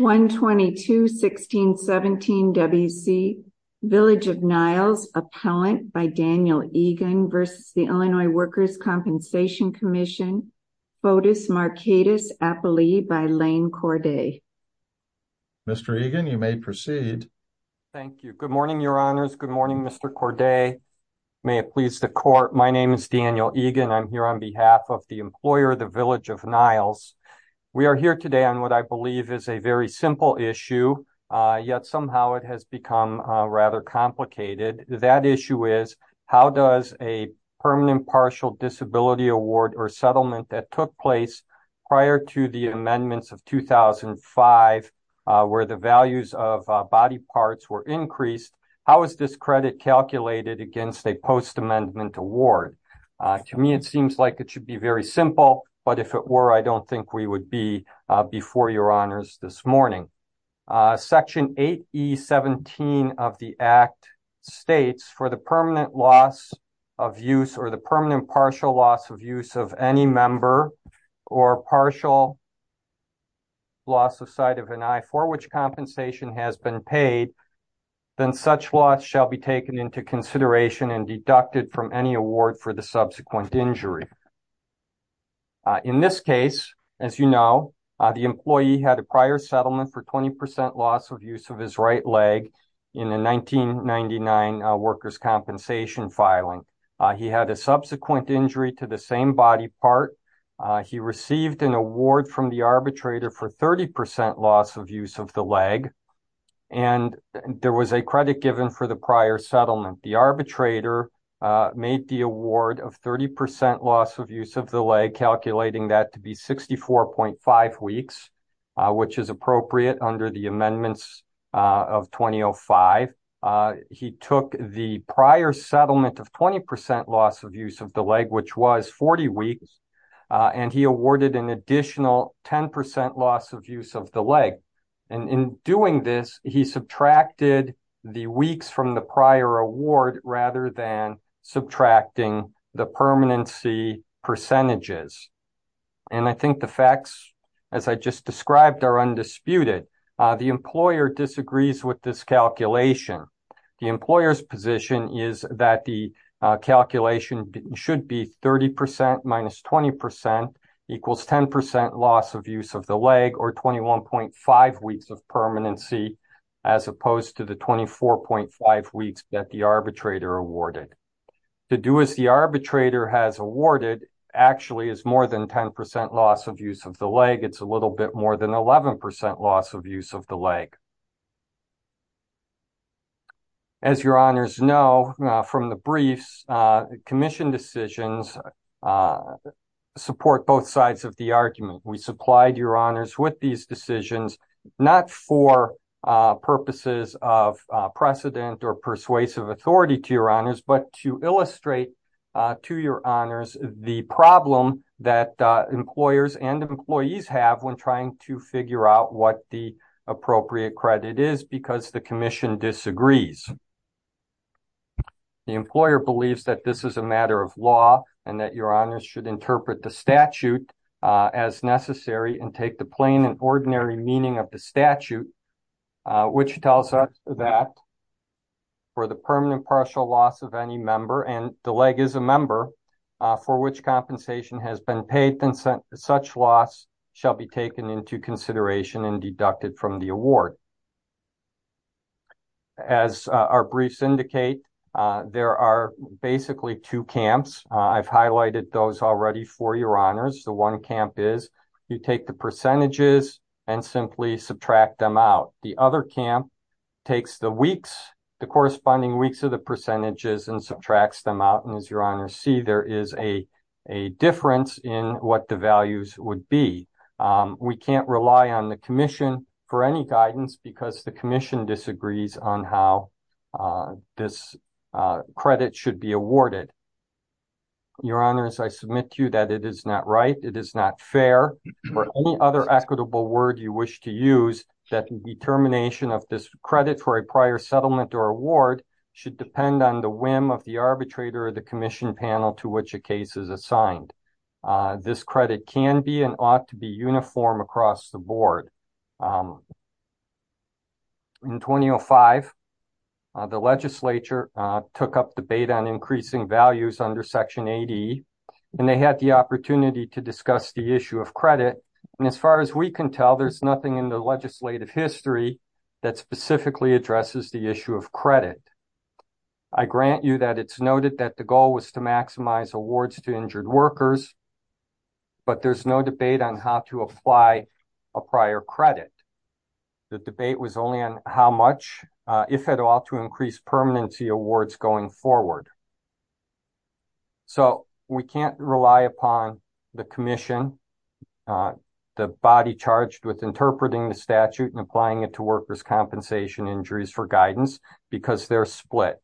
122-1617 WC, Village of Niles, appellant by Daniel Egan v. The Illinois Workers' Compensation Commission, bodice marcatus appellee by Lane Corday. Mr. Egan, you may proceed. Thank you. Good morning, your honors. Good morning, Mr. Corday. May it please the court. My name is Daniel Egan. I'm here on behalf of the employer, the Village of Niles. We are here today on what I believe is a very simple issue, yet somehow it has become rather complicated. That issue is, how does a permanent partial disability award or settlement that took place prior to the amendments of 2005, where the values of body parts were increased, how is this credit calculated against a post-amendment award? To me, it seems like it should be very simple, but if it were, I don't think we would be before your honors this morning. Section 8E-17 of the Act states, for the permanent loss of use or the permanent partial loss of use of any member or partial loss of sight of an eye for which compensation has been paid, then such loss shall be taken into consideration and deducted from any award for the subsequent injury. In this case, as you know, the employee had a prior settlement for 20% loss of use of his right leg in a 1999 workers' compensation filing. He had a subsequent injury to the same body part. He received an award from the arbitrator for 30% loss of use of the leg, and there was a credit given for the prior settlement. The arbitrator made the award of 30% loss of use of the leg, calculating that to be 64.5 weeks, which is appropriate under the amendments of 2005. He took the prior settlement of 20% loss of use of the leg, which was 40 weeks, and he awarded an additional 10% loss of use of the leg. In doing this, he subtracted the weeks from the prior award rather than subtracting the permanency percentages. I think the facts, as I just described, are undisputed. The employer disagrees with this calculation. The employer's position is that the calculation should be 30% minus 20% equals 10% loss of use of the leg, or 21.5 weeks of permanency, as opposed to the 24.5 weeks that the arbitrator awarded. To do as the arbitrator has awarded actually is more than 10% loss of use of the leg. It's a little bit more than 11% loss of use of the support both sides of the argument. We supplied your honors with these decisions, not for purposes of precedent or persuasive authority to your honors, but to illustrate to your honors the problem that employers and employees have when trying to figure out what the appropriate credit is because the commission disagrees. The employer believes that this is a matter of law and that your honors should interpret the statute as necessary and take the plain and ordinary meaning of the statute, which tells us that for the permanent partial loss of any member, and the leg is a member, for which compensation has been paid, then such loss shall be taken into consideration and deducted from the award. As our briefs indicate, there are basically two camps. I've highlighted those already for your honors. The one camp is you take the percentages and simply subtract them out. The other camp takes the corresponding weeks of the percentages and subtracts them out. As your honors see, there is a difference in what the values would be. We can't rely on the commission for any guidance because the commission disagrees on how this credit should be awarded. Your honors, I submit to you that it is not right, it is not fair, or any other equitable word you wish to use that the determination of this credit for a prior settlement or award should depend on the whim of the arbitrator or the commission panel to which a case is assigned. This credit can be and ought to be uniform across the board. In 2005, the legislature took up debate on increasing values under Section 80, and they had the opportunity to discuss the issue of credit. As far as we can tell, there is nothing in the legislative history that specifically addresses the issue of credit. I grant you that it's noted that the goal was to maximize awards to injured workers, but there's no debate on how to apply a prior credit. The debate was only on how much, if at all, to increase permanency awards going forward. So, we can't rely upon the commission, the body charged with interpreting the statute and their split.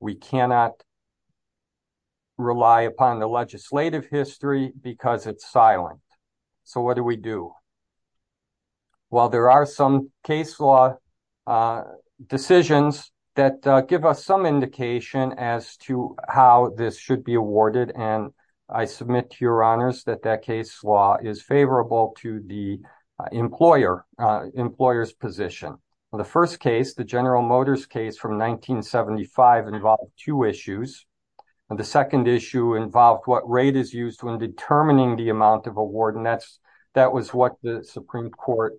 We cannot rely upon the legislative history because it's silent. So, what do we do? Well, there are some case law decisions that give us some indication as to how this should be awarded, and I submit to your honors that that case law is favorable to the employer's position. The first case, the General Motors case from 1975, involved two issues. The second issue involved what rate is used when determining the amount of award, and that was what the Supreme Court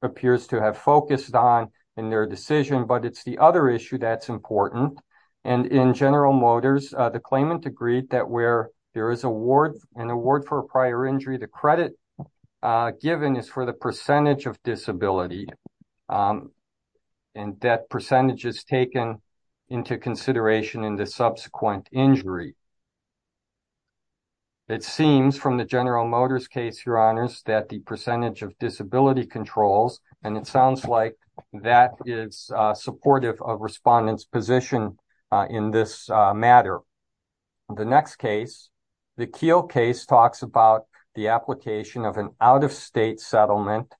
appears to have focused on in their decision. But it's the other issue that's important, and in General Motors, the claimant agreed that where there is an award for a prior injury, the credit given is for the percentage of disability, and that percentage is taken into consideration in the subsequent injury. It seems from the General Motors case, your honors, that the percentage of disability controls, and it sounds like that is supportive of respondents' position in this matter. The next case, the Keele case, talks about the application of an out-of-state settlement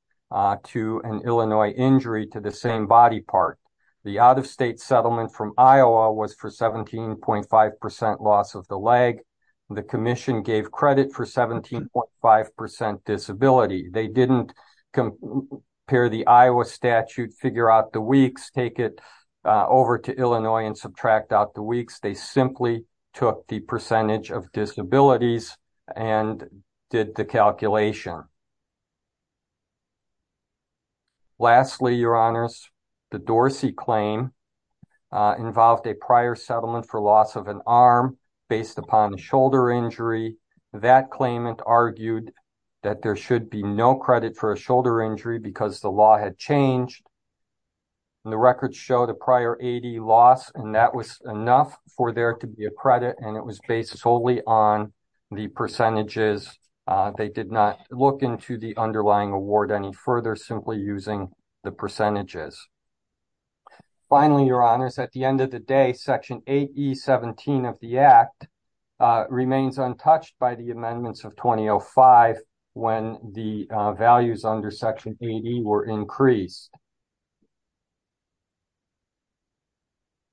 to an Illinois injury to the same body part. The out-of-state settlement from Iowa was for 17.5% loss of the leg. The commission gave credit for 17.5% disability. They didn't compare the Iowa statute, figure out the weeks, take it over to Illinois and subtract out the took the percentage of disabilities and did the calculation. Lastly, your honors, the Dorsey claim involved a prior settlement for loss of an arm based upon the shoulder injury. That claimant argued that there should be no credit for a shoulder injury because the law had changed, and the records show the prior AD loss, and that was enough for there to be a credit, and it was based solely on the percentages. They did not look into the underlying award any further, simply using the percentages. Finally, your honors, at the end of the day, Section 8E17 of the Act remains untouched by the amendments of 2005 when the values under Section 8E were increased.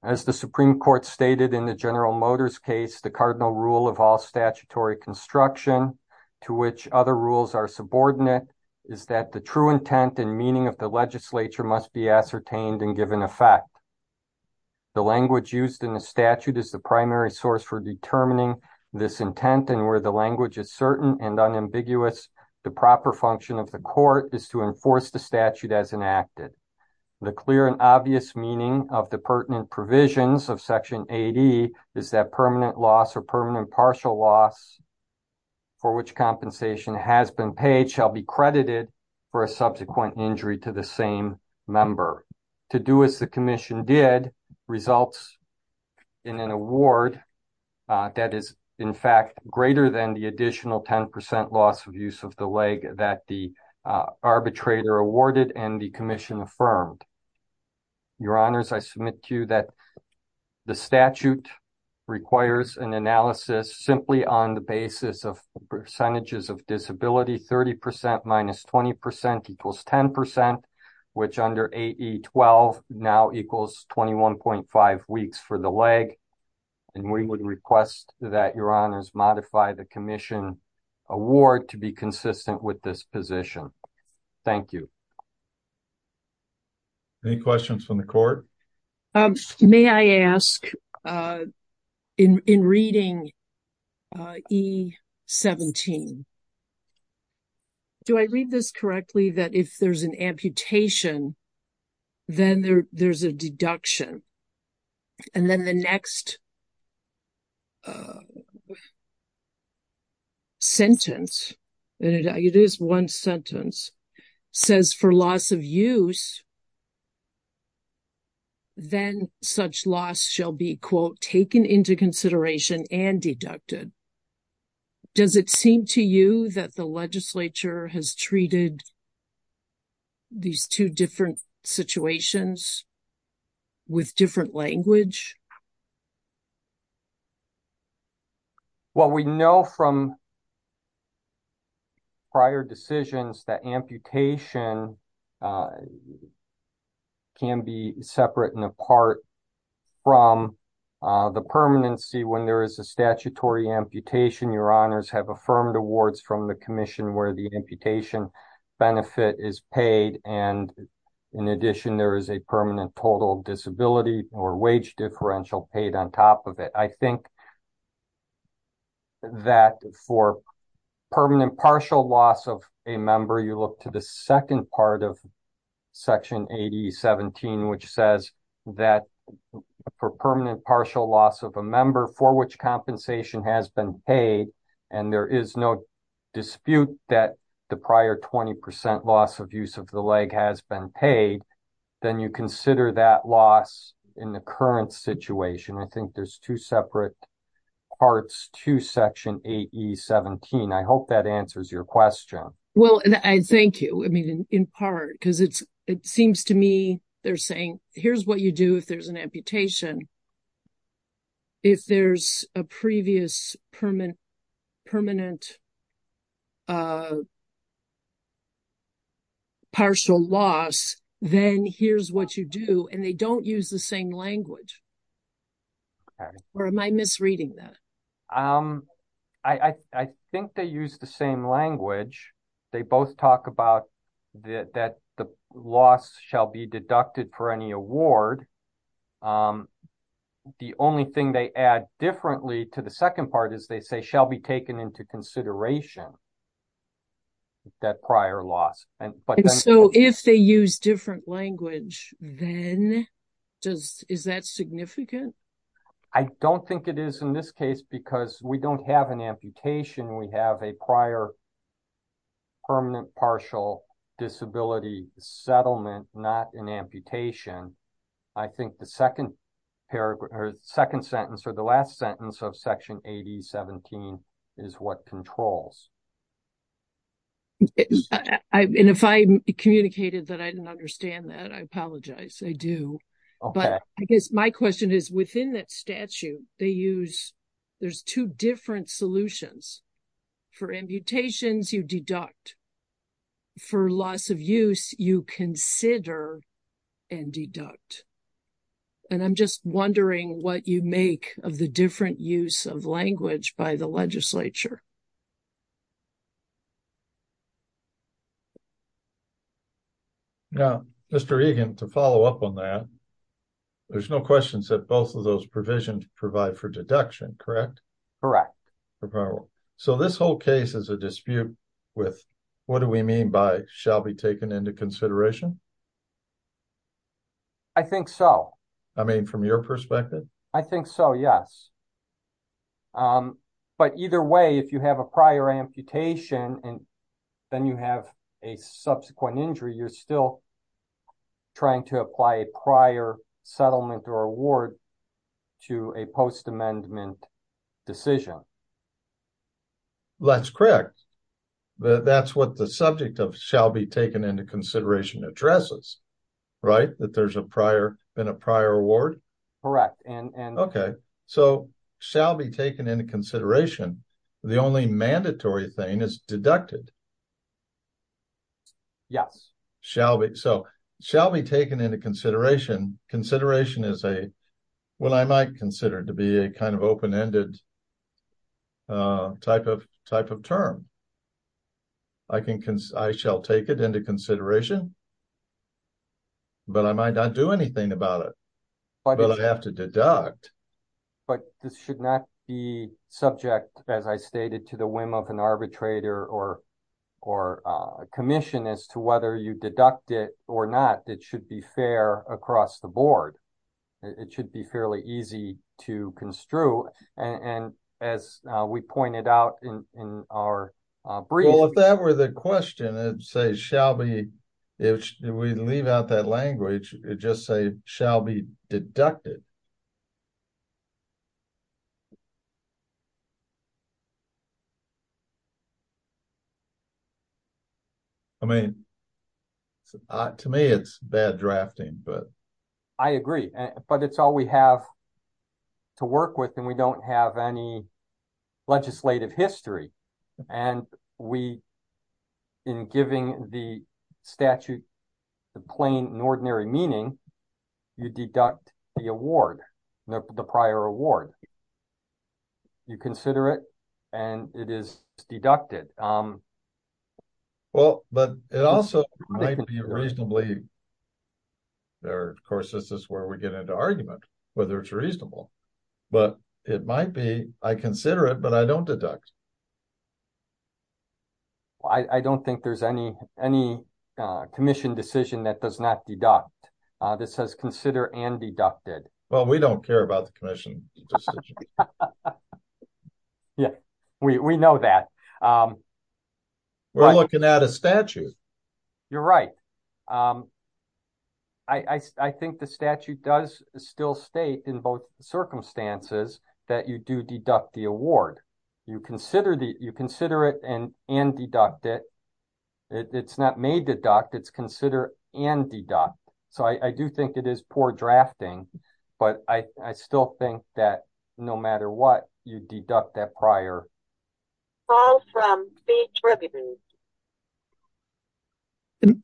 As the Supreme Court stated in the General Motors case, the cardinal rule of all statutory construction to which other rules are subordinate is that the true intent and meaning of the legislature must be ascertained and given effect. The language used in the statute is the primary source for determining this intent, and where the language is certain and unambiguous, the proper function of the court is to enforce the statute as enacted. The clear and obvious meaning of the pertinent provisions of Section 8E is that permanent loss or permanent partial loss for which compensation has been paid shall be credited for a subsequent injury to the same member. To do as the Commission did results in an award that is, in fact, greater than the additional 10% loss of use of the leg that the arbitrator awarded and the Commission affirmed. Your honors, I submit to you that the statute requires an analysis simply on the basis of percentages of disability. 30% minus 20% equals 10%, which under 8E-12 now equals 21.5 weeks for the leg, and we would request that your honors modify the Commission award to be consistent with this position. Thank you. Any questions from the court? May I ask, in reading 8E-17, do I read this correctly that if there's an amputation, then there's a deduction, and then the next sentence, and it is one sentence, says for loss of use, then such loss shall be, quote, taken into consideration and deducted. Does it seem to that the legislature has treated these two different situations with different language? Well, we know from prior decisions that amputation can be separate and apart from the permanency when there is a statutory amputation. Your from the Commission where the amputation benefit is paid, and in addition, there is a permanent total disability or wage differential paid on top of it. I think that for permanent partial loss of a member, you look to the second part of section 8E-17, which says that for permanent partial loss of a member for which compensation has been paid, and there is no dispute that the prior 20% loss of use of the leg has been paid, then you consider that loss in the current situation. I think there's two separate parts to section 8E-17. I hope that answers your question. Well, thank you. I mean, in part, because it seems to me they're saying, here's what you do if there's an amputation. If there's a previous permanent partial loss, then here's what you do, and they don't use the same language. Or am I misreading that? I think they use the same language. They both talk about that the loss shall be rewarded. The only thing they add differently to the second part is they say shall be taken into consideration that prior loss. So, if they use different language, then is that significant? I don't think it is in this case, because we don't have an amputation. We have a prior permanent partial disability settlement, not an amputation. I think the second sentence or the last sentence of section 8E-17 is what controls. If I communicated that I didn't understand that, I apologize. I do. But I guess my question is, within that statute, there's two different solutions. For amputations, you deduct. For loss of use, you consider and deduct. And I'm just wondering what you make of the different use of language by the legislature. Now, Mr. Egan, to follow up on that, there's no questions that both of those provisions provide for deduction, correct? Correct. So, this whole case is a dispute with what do we mean by shall be taken into consideration? I think so. I mean from your perspective? I think so, yes. But either way, if you have a prior amputation and then you have a subsequent injury, you're still trying to apply a prior settlement or award to a post-amendment decision. That's correct. That's what the subject of shall be taken into consideration addresses, right? That there's been a prior award? Correct. Okay. So, shall be taken into consideration, the only mandatory thing is deducted. Yes. So, shall be taken into consideration. Consideration is a, what I might consider to be a kind of open-ended type of term. I shall take it into consideration, but I might not do anything about it, but I have to deduct. But this should not be subject, as I stated, to the whim of an arbitrator or a commission as whether you deduct it or not, it should be fair across the board. It should be fairly easy to construe. And as we pointed out in our brief. Well, if that were the question, I'd say shall be, if we leave out that language, it just say shall be deducted. I mean, to me, it's bad drafting, but I agree, but it's all we have to work with. And we don't have any legislative history. And we in giving the statute, the plain and ordinary meaning, you deduct the award, the prior award. You consider it and it is deducted. Well, but it also might be reasonably there. Of course, this is where we get into argument, whether it's reasonable, but it might be, I consider it, but I don't deduct. Well, I don't think there's any, any commission decision that does not deduct. This has consider and deducted. Well, we don't care about the commission decision. Yeah, we know that. We're looking at a statute. You're right. I think the statute does still state in both circumstances that you do deduct the award. You consider it and deduct it. It's not may deduct, it's consider and deduct. So I do think it is poor drafting, but I still think that no matter what you deduct that prior.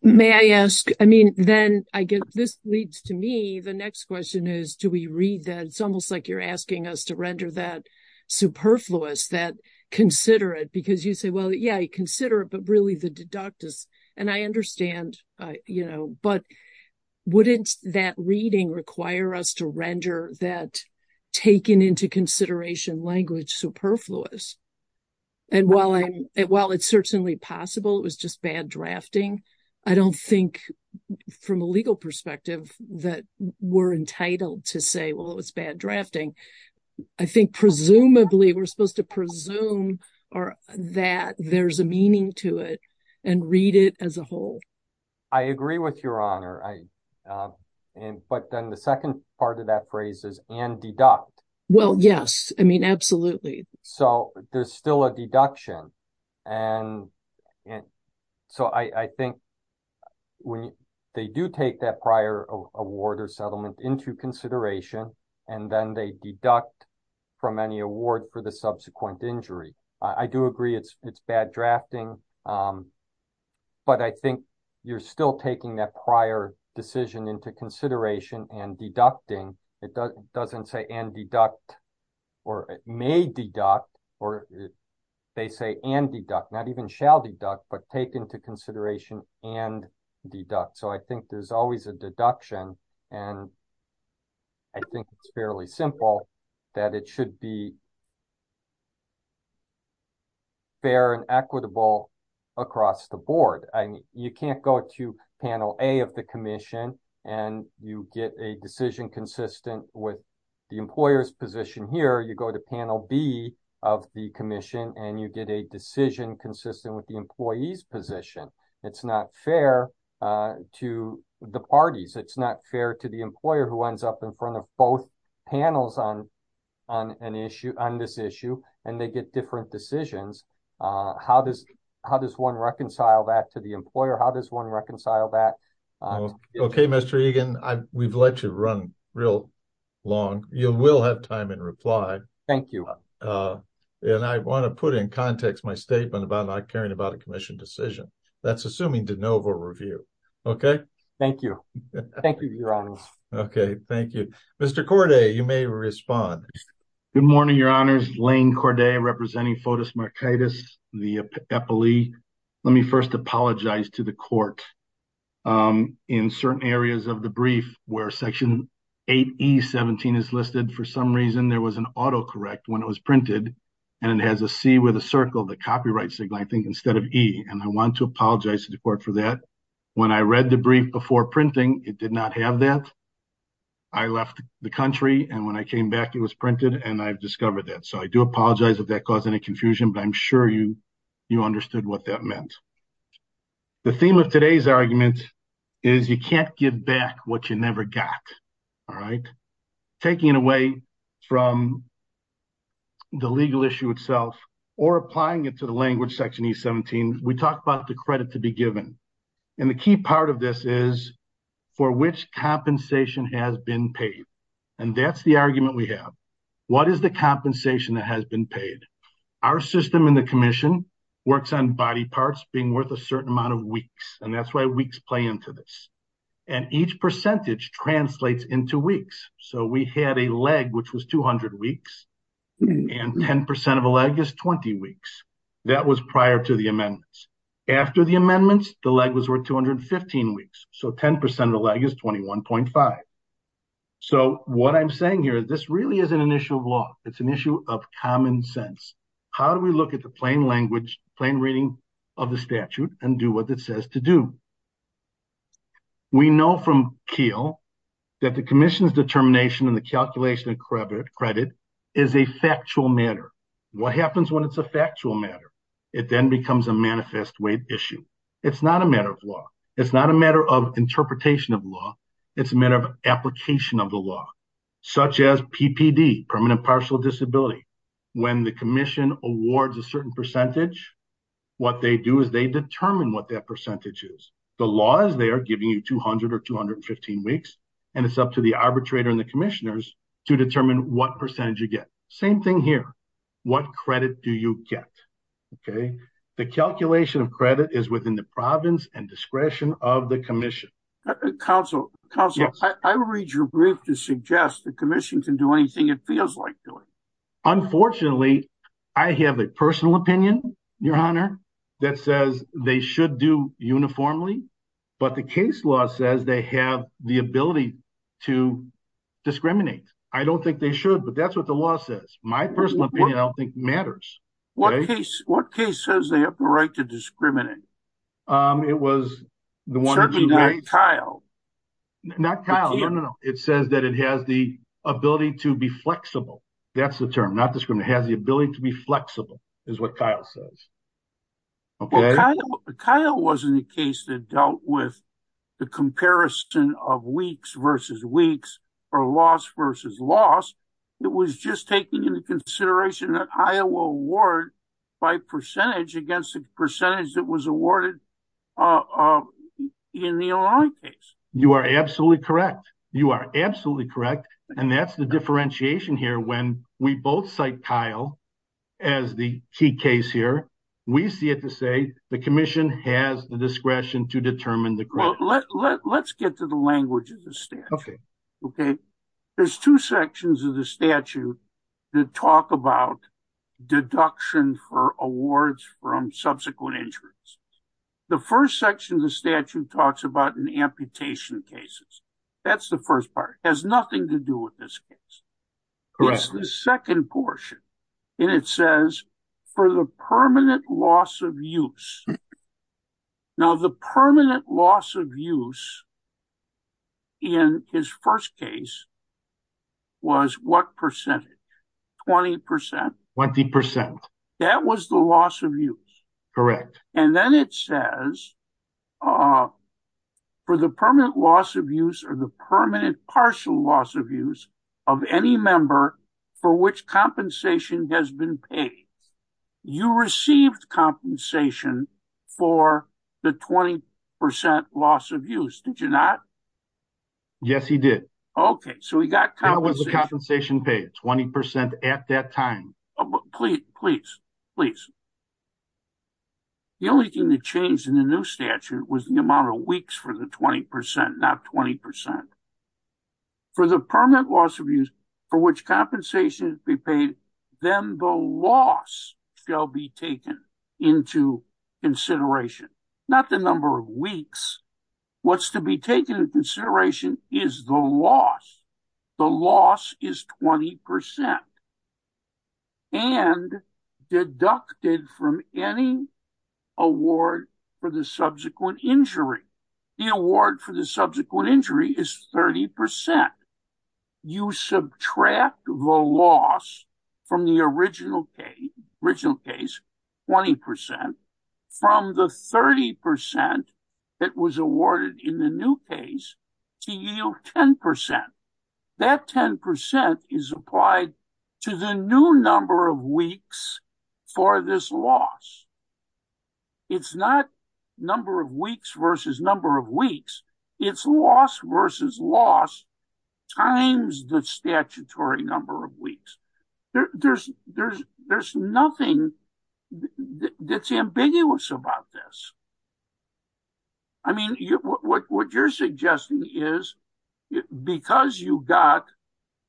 May I ask, I mean, then I guess this leads to me. The next question is, do we read that? It's almost like you're asking us to render that superfluous that consider it because you say, well, yeah, I consider it, but really the deductus. And I understand, but wouldn't that reading require us to render that taken into consideration language superfluous. And while it's certainly possible, it was just bad drafting. I don't think from a legal perspective that we're entitled to say, well, it was bad drafting. I think presumably we're supposed to presume or that there's a meaning to it and read it as a whole. I agree with your honor. But then the second part of that phrase is and deduct. Well, yes, I mean, absolutely. So there's still a deduction. And so I think when they do take that prior award or settlement into consideration, and then they deduct from any award for the subsequent injury. I do agree it's bad drafting, but I think you're still taking that prior decision into consideration and deducting. It doesn't say and deduct or may deduct or they say and deduct, not even shall deduct, but take into consideration and deduct. So I think there's always a deduction. And I think it's fairly simple that it should be fair and equitable across the board. You can't go to panel A of the commission and you get a with the employer's position here. You go to panel B of the commission and you get a decision consistent with the employee's position. It's not fair to the parties. It's not fair to the employer who ends up in front of both panels on this issue and they get different decisions. How does one reconcile that to the employer? How does one reconcile that? Okay, Mr. Egan, we've let you run real long. You will have time in reply. Thank you. And I want to put in context my statement about not caring about a commission decision. That's assuming de novo review. Okay. Thank you. Thank you, your honor. Okay, thank you. Mr. Corday, you may respond. Good morning, your honors. Lane Corday representing Fotis Markitis, the epilee. Let me first apologize to the court in certain areas of the brief where section 8E17 is listed. For some reason, there was an autocorrect when it was printed and it has a C with a circle, the copyright signal, I think instead of E. And I want to apologize to the court for that. When I read the brief before printing, it did not have that. I left the country and when I came back, it was printed and I've discovered that. So I do apologize if that caused any confusion, but I'm sure you understood what that meant. The theme of today's argument is you can't give back what you never got. All right. Taking it away from the legal issue itself or applying it to the language section 8E17, we talked about the credit to be given. And the key part of this is for which compensation has been paid. And that's the argument we have. What is the compensation that has been paid? Our system in the commission works on body parts being worth a certain amount of weeks. And that's why weeks play into this. And each percentage translates into weeks. So we had a leg, which was 200 weeks and 10% of a leg is 20 weeks. That was prior to the amendments. After the amendments, the leg was worth 215 weeks. So 10% of the leg is 21.5. So what I'm saying here, this really isn't an issue of law. It's an issue of common sense. How do we look at the plain language, plain reading of the statute and do what it says to do? We know from Kiel that the commission's determination and the calculation of credit is a factual matter. What happens when it's factual matter? It then becomes a manifest way issue. It's not a matter of law. It's not a matter of interpretation of law. It's a matter of application of the law, such as PPD, permanent partial disability. When the commission awards a certain percentage, what they do is they determine what that percentage is. The law is there giving you 200 or 215 weeks, and it's up to the arbitrator and the commissioners to determine what percentage you get. Same thing here. What credit do you get? The calculation of credit is within the province and discretion of the commission. Counselor, I read your brief to suggest the commission can do anything it feels like doing. Unfortunately, I have a personal opinion, Your Honor, that says they should do uniformly, but the case law says they have the ability to discriminate. I don't think they should, but that's what the law says. My personal opinion, I don't think, matters. What case says they have the right to discriminate? Certainly not Kiel. Not Kiel. No, no, no. It says that it has the ability to be flexible. That's the term, not discriminate. It has the ability to be flexible, is what Kiel says. Kiel wasn't the case that dealt with the comparison of weeks versus weeks, or loss versus loss. It was just taking into consideration that Iowa award by percentage against the percentage that was awarded in the Illinois case. You are absolutely correct. You are absolutely correct. That's the differentiation here. When we both cite Kiel as the key case here, we see it to say the commission has the discretion to determine the credit. Let's get to the language of the statute. There's two sections of the statute that talk about deduction for awards from subsequent insurance. The first section of the statute talks about an amputation cases. That's the first part. It has nothing to do with this case. Correct. It's the second portion. It says for the permanent loss of use. Now, the permanent loss of use in his first case was what percentage? 20%. 20%. That was the loss of use. Correct. Then it says for the permanent loss of use, or the permanent partial loss of use of any member for which compensation has been paid. You received compensation for the 20% loss of use, did you not? Yes, he did. Okay, so we got compensation. That was the compensation paid, 20% at that time. Please. The only thing that changed in the new statute was the amount of weeks for the 20%, not 20%. For the permanent loss of use for which compensation has been paid, then the loss shall be taken into consideration. Not the number of weeks. What's to be taken into consideration is the loss. The loss is 20% and deducted from any award for the subsequent injury. The award for the subsequent injury is 30%. You subtract the loss from the original case, 20%, from the 30% that was awarded in the new case to yield 10%. That 10% is applied to the new number of weeks for this loss. It's not number of weeks versus number of weeks. It's loss versus loss times the statutory number of weeks. There's nothing that's ambiguous about this. I mean, what you're suggesting is because you got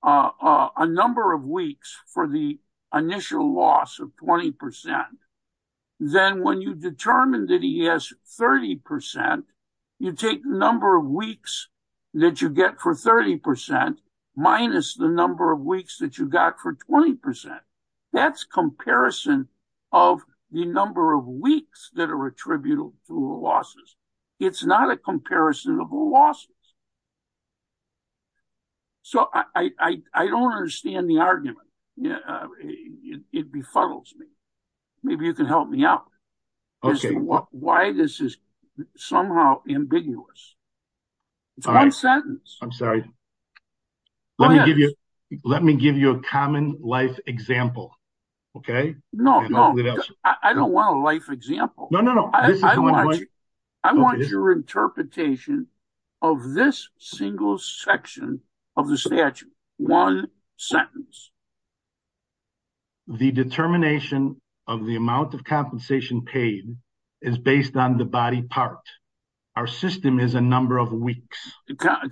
a number of weeks for the initial loss of 20%, then when you determine that he has 30%, you take the number of weeks that you get for 30% minus the number of weeks that you got for 20%. That's comparison of the number of weeks that are attributed to losses. It's not a comparison of losses. So, I don't understand the argument. It befuddles me. Maybe you can help me out as to why this is somehow ambiguous. It's one sentence. I'm sorry. Let me give you a common life example. Okay? No, no. I don't want a life example. No, no, no. I want your interpretation of this single section of the statute. One sentence. The determination of the amount of compensation paid is based on the body part. Our system is a number of weeks.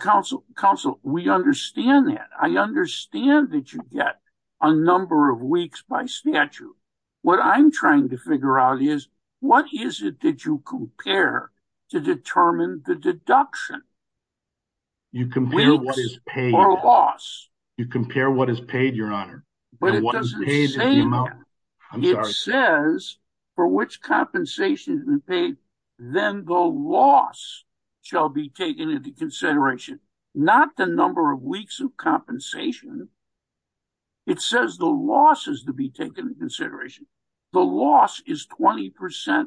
Counsel, we understand that. I understand that you get a number of weeks by the statute. What I'm trying to figure out is what is it that you compare to determine the deduction? Weeks or loss. You compare what is paid, your honor. But it doesn't say that. It says for which compensation has been paid, then the loss shall be taken into consideration. Not the number of weeks of compensation. It says the loss is to be taken into consideration. The loss is 20%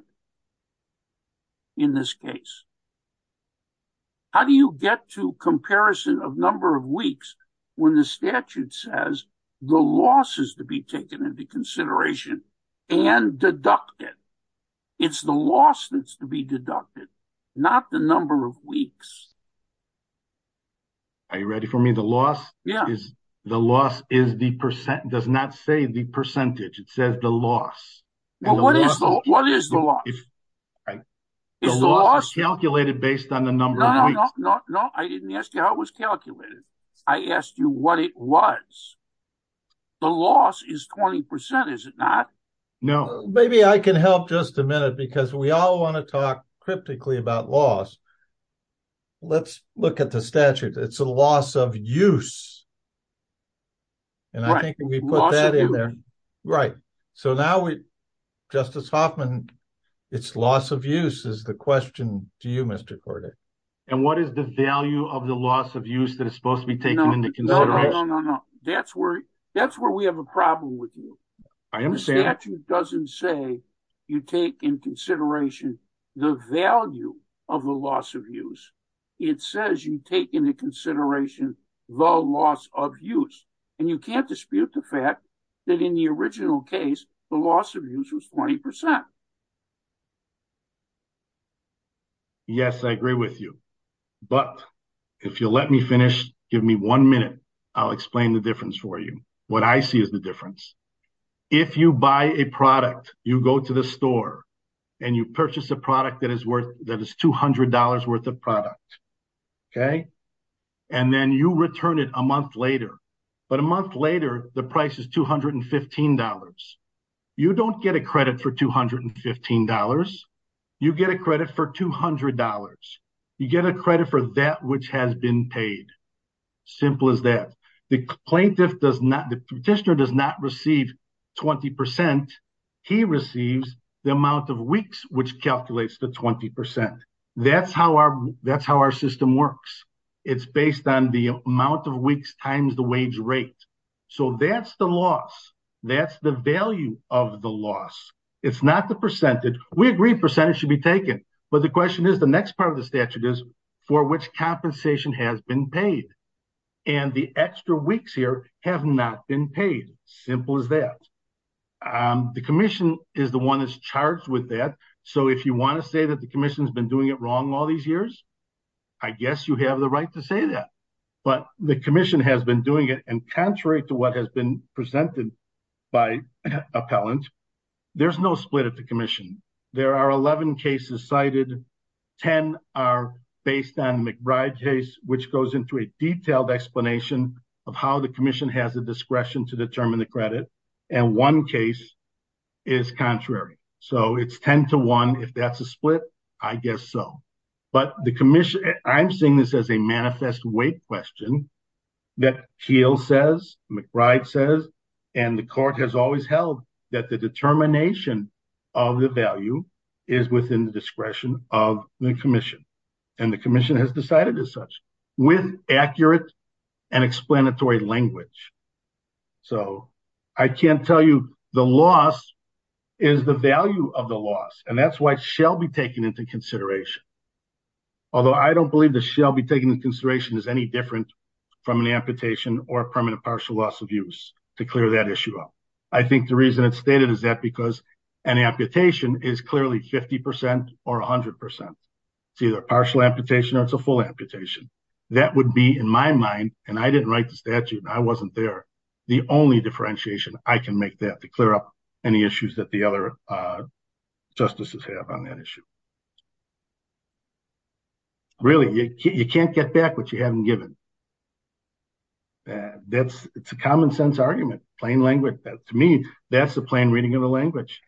in this case. How do you get to comparison of number of weeks when the statute says the loss is to be taken into consideration and deducted? It's the loss that's to be deducted, not the number of weeks. Are you ready for me? The loss is the percent. It does not say the percentage. It says the loss. What is the loss? The loss is calculated based on the number of weeks. No, no. I didn't ask you how it was calculated. I asked you what it was. The loss is 20%, is it not? No. Maybe I can help just a minute because we all want to talk cryptically about loss. Let's look at the statute. It's a loss of use. Justice Hoffman, it's loss of use is the question to you, Mr. Cordray. What is the value of the loss of use that is supposed to be taken into consideration? No, no. That's where we have a problem with you. The statute doesn't say you take into consideration the value of the loss of use. It says you take into consideration the loss of use. You can't dispute the fact that in the original case, the loss of use was 20%. Yes, I agree with you. But if you'll let me finish, give me one minute, I'll explain the story. You purchase a product that is $200 worth of product. Then you return it a month later. But a month later, the price is $215. You don't get a credit for $215. You get a credit for $200. You get a credit for that which has been paid. Simple as that. The plaintiff does not, the petitioner does not receive 20%. He receives the amount of weeks which calculates the 20%. That's how our system works. It's based on the amount of weeks times the wage rate. So that's the loss. That's the value of the loss. It's not the percentage. We agree percentage should be taken. But the question is the next part of the statute is for which compensation has been paid. And the extra weeks here have not been paid. Simple as that. The commission is the one that's charged with that. So if you want to say that the commission has been doing it wrong all these years, I guess you have the right to say that. But the commission has been doing it and contrary to what has been presented by appellant, there's no split at the commission. There are 11 cases cited. 10 are based on the McBride case which goes into a detailed explanation of how the commission has the discretion to determine the credit. And one case is contrary. So it's 10 to 1. If that's a split, I guess so. But the commission, I'm seeing this as a manifest weight question that Keil says, McBride says, and the court has always held that the determination of the value is within the discretion of the commission. And the commission has decided as such with accurate and explanatory language. So I can't tell you the loss is the value of the loss. And that's why it shall be taken into consideration. Although I don't believe the shall be taken into consideration as any different from an amputation or permanent partial loss of use to clear that issue up. I think the reason it's stated is that because an amputation is clearly 50% or 100%. It's either a partial amputation or it's a full amputation. That would be in my mind, and I didn't write the statute, I wasn't there, the only differentiation I can make that to clear up any issues that the other justices have on that issue. Really, you can't get back what you haven't given. That's it's a common sense argument, plain language. To me, that's the plain reading of the language.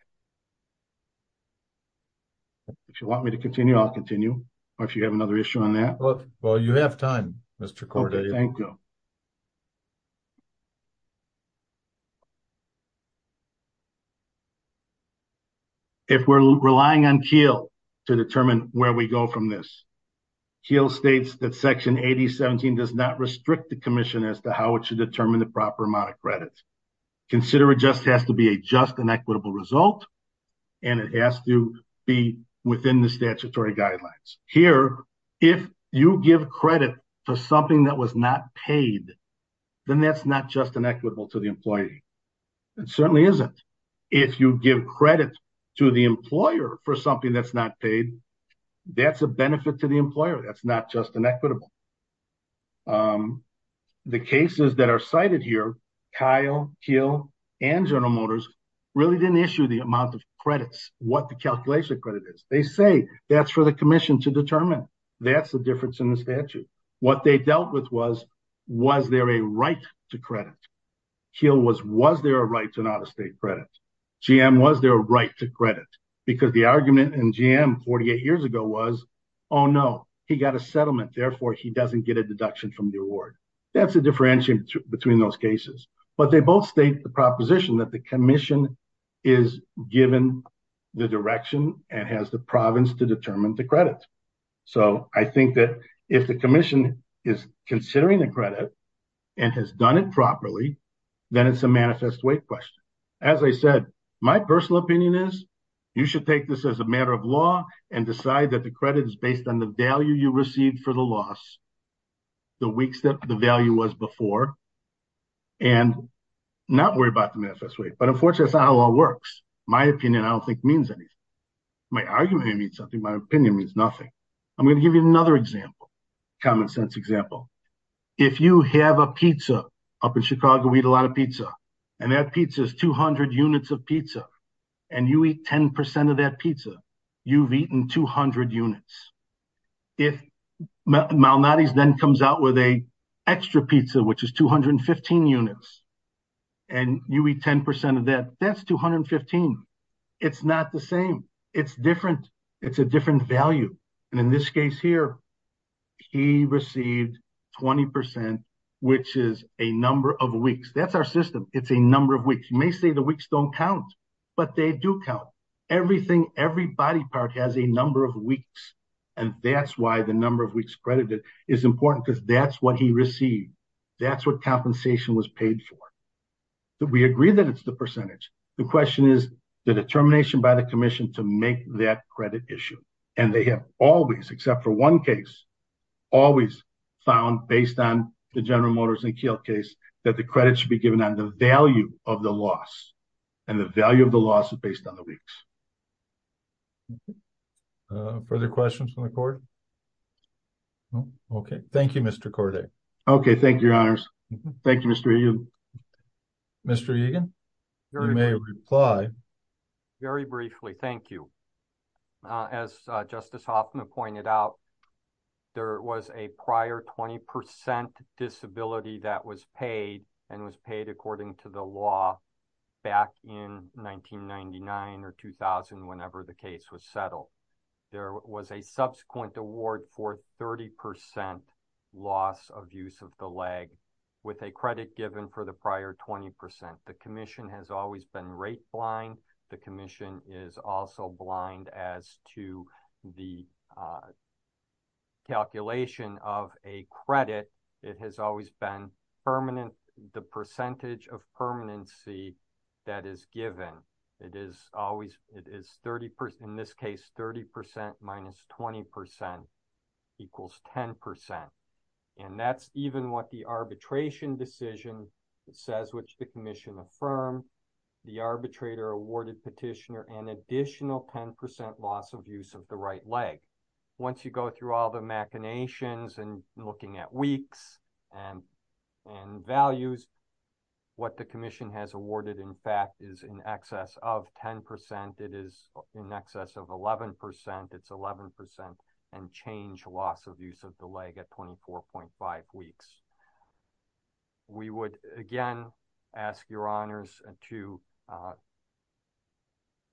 If you want me to continue, I'll continue. Or if you have another issue on that. Well, you have time, Mr. Corday. Thank you. If we're relying on Keil to determine where we go from this, Keil states that section 8017 does not restrict the commission as to how it should determine the proper amount of credit. Consider it just has to be a just and equitable result. And it has to be within the statutory guidelines. Here, if you give credit to something that was not paid, then that's not just inequitable to the employee. It certainly isn't. If you give credit to the employer for something that's not paid, that's a benefit to the employer. That's not just inequitable. The cases that are cited here, Keil, Keil, and General Motors really didn't issue the amount of credits, what the calculation credit is. They say that's for the commission to determine. That's the difference in the statute. What they dealt with was, was there a right to credit? Keil was, was there a right to an out-of-state credit? GM, was there a right to credit? Because the argument in GM 48 years ago was, oh, no, he got a settlement. Therefore, he doesn't get a deduction from the award. That's the differentiation between those cases. But they both state the proposition that the commission is given the direction and has the province to determine the credit. So I think that if the commission is considering the credit and has done it properly, then it's a manifest weight question. As I said, my personal opinion is, you should take this as a matter of law and decide that the credit is based on the value you received for the loss, the weeks that the value was before, and not worry about the manifest weight. But unfortunately, that's not how law works. My opinion, I don't think, means anything. My argument may mean something. My opinion means nothing. I'm going to give you another example, common sense example. If you have a pizza, up in Chicago, we eat a lot of pizza, and that pizza is 200 units of pizza, and you eat 10% of that pizza, you've eaten 200 units. If Malnati's then comes out with a extra pizza, which is 215 units, and you eat 10% of that, that's 215. It's not the same. It's different. It's a different value. And in this case here, he received 20%, which is a number of weeks. That's our system. It's a number of weeks. You may say the weeks don't count, but they do count. Everything, every body part has a number of weeks. And that's why the number of weeks credited is important because that's what he received. That's what compensation was paid for. We agree that it's the percentage. The question is, the determination by the commission to make that credit issue. And they have always, except for one case, always found based on the General Motors and Kielt case, that the credit should be given on the value of the loss. And the value of the loss is based on the weeks. Further questions from the court? Okay. Thank you, Mr. Corday. Okay. Thank you, your honors. Thank you, Mr. Egan. You may reply. Very briefly. Thank you. As Justice Hoffman pointed out, there was a prior 20% disability that was paid and was paid according to the law back in 1999 or 2000, whenever the case was settled. There was a subsequent award for 30% loss of use of the leg with a credit given for the prior 20%. The commission has always been rate blind. The commission is also blind as to the calculation of a credit. It has always been permanent. The percentage of permanency that is given, it is always, it is 30%, in this case, 30% minus 20% equals 10%. And that's even what the arbitration decision says, which the commission affirmed. The arbitrator awarded petitioner an additional 10% loss of use of the right leg. Once you go through all the machinations and looking at weeks and values, what the commission has awarded, in fact, is in excess of 10%. It is in excess of 11%. It's 11% and change loss of use of the leg at 24.5 weeks. We would, again, ask your honors to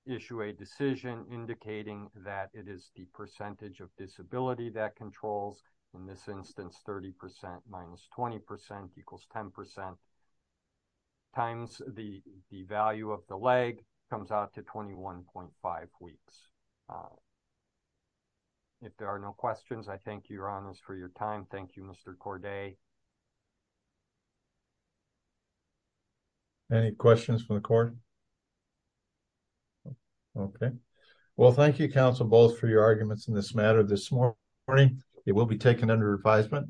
issue a decision indicating that it is the percentage of disability that controls, in this instance, 30% minus 20% equals 10% times the value of the leg comes out to 21.5 weeks. If there are no questions, I thank your honors for your time. Thank you, Mr. Corday. Any questions from the court? Okay. Well, thank you, counsel, both for your arguments in this matter this morning. It will be taken under advisement.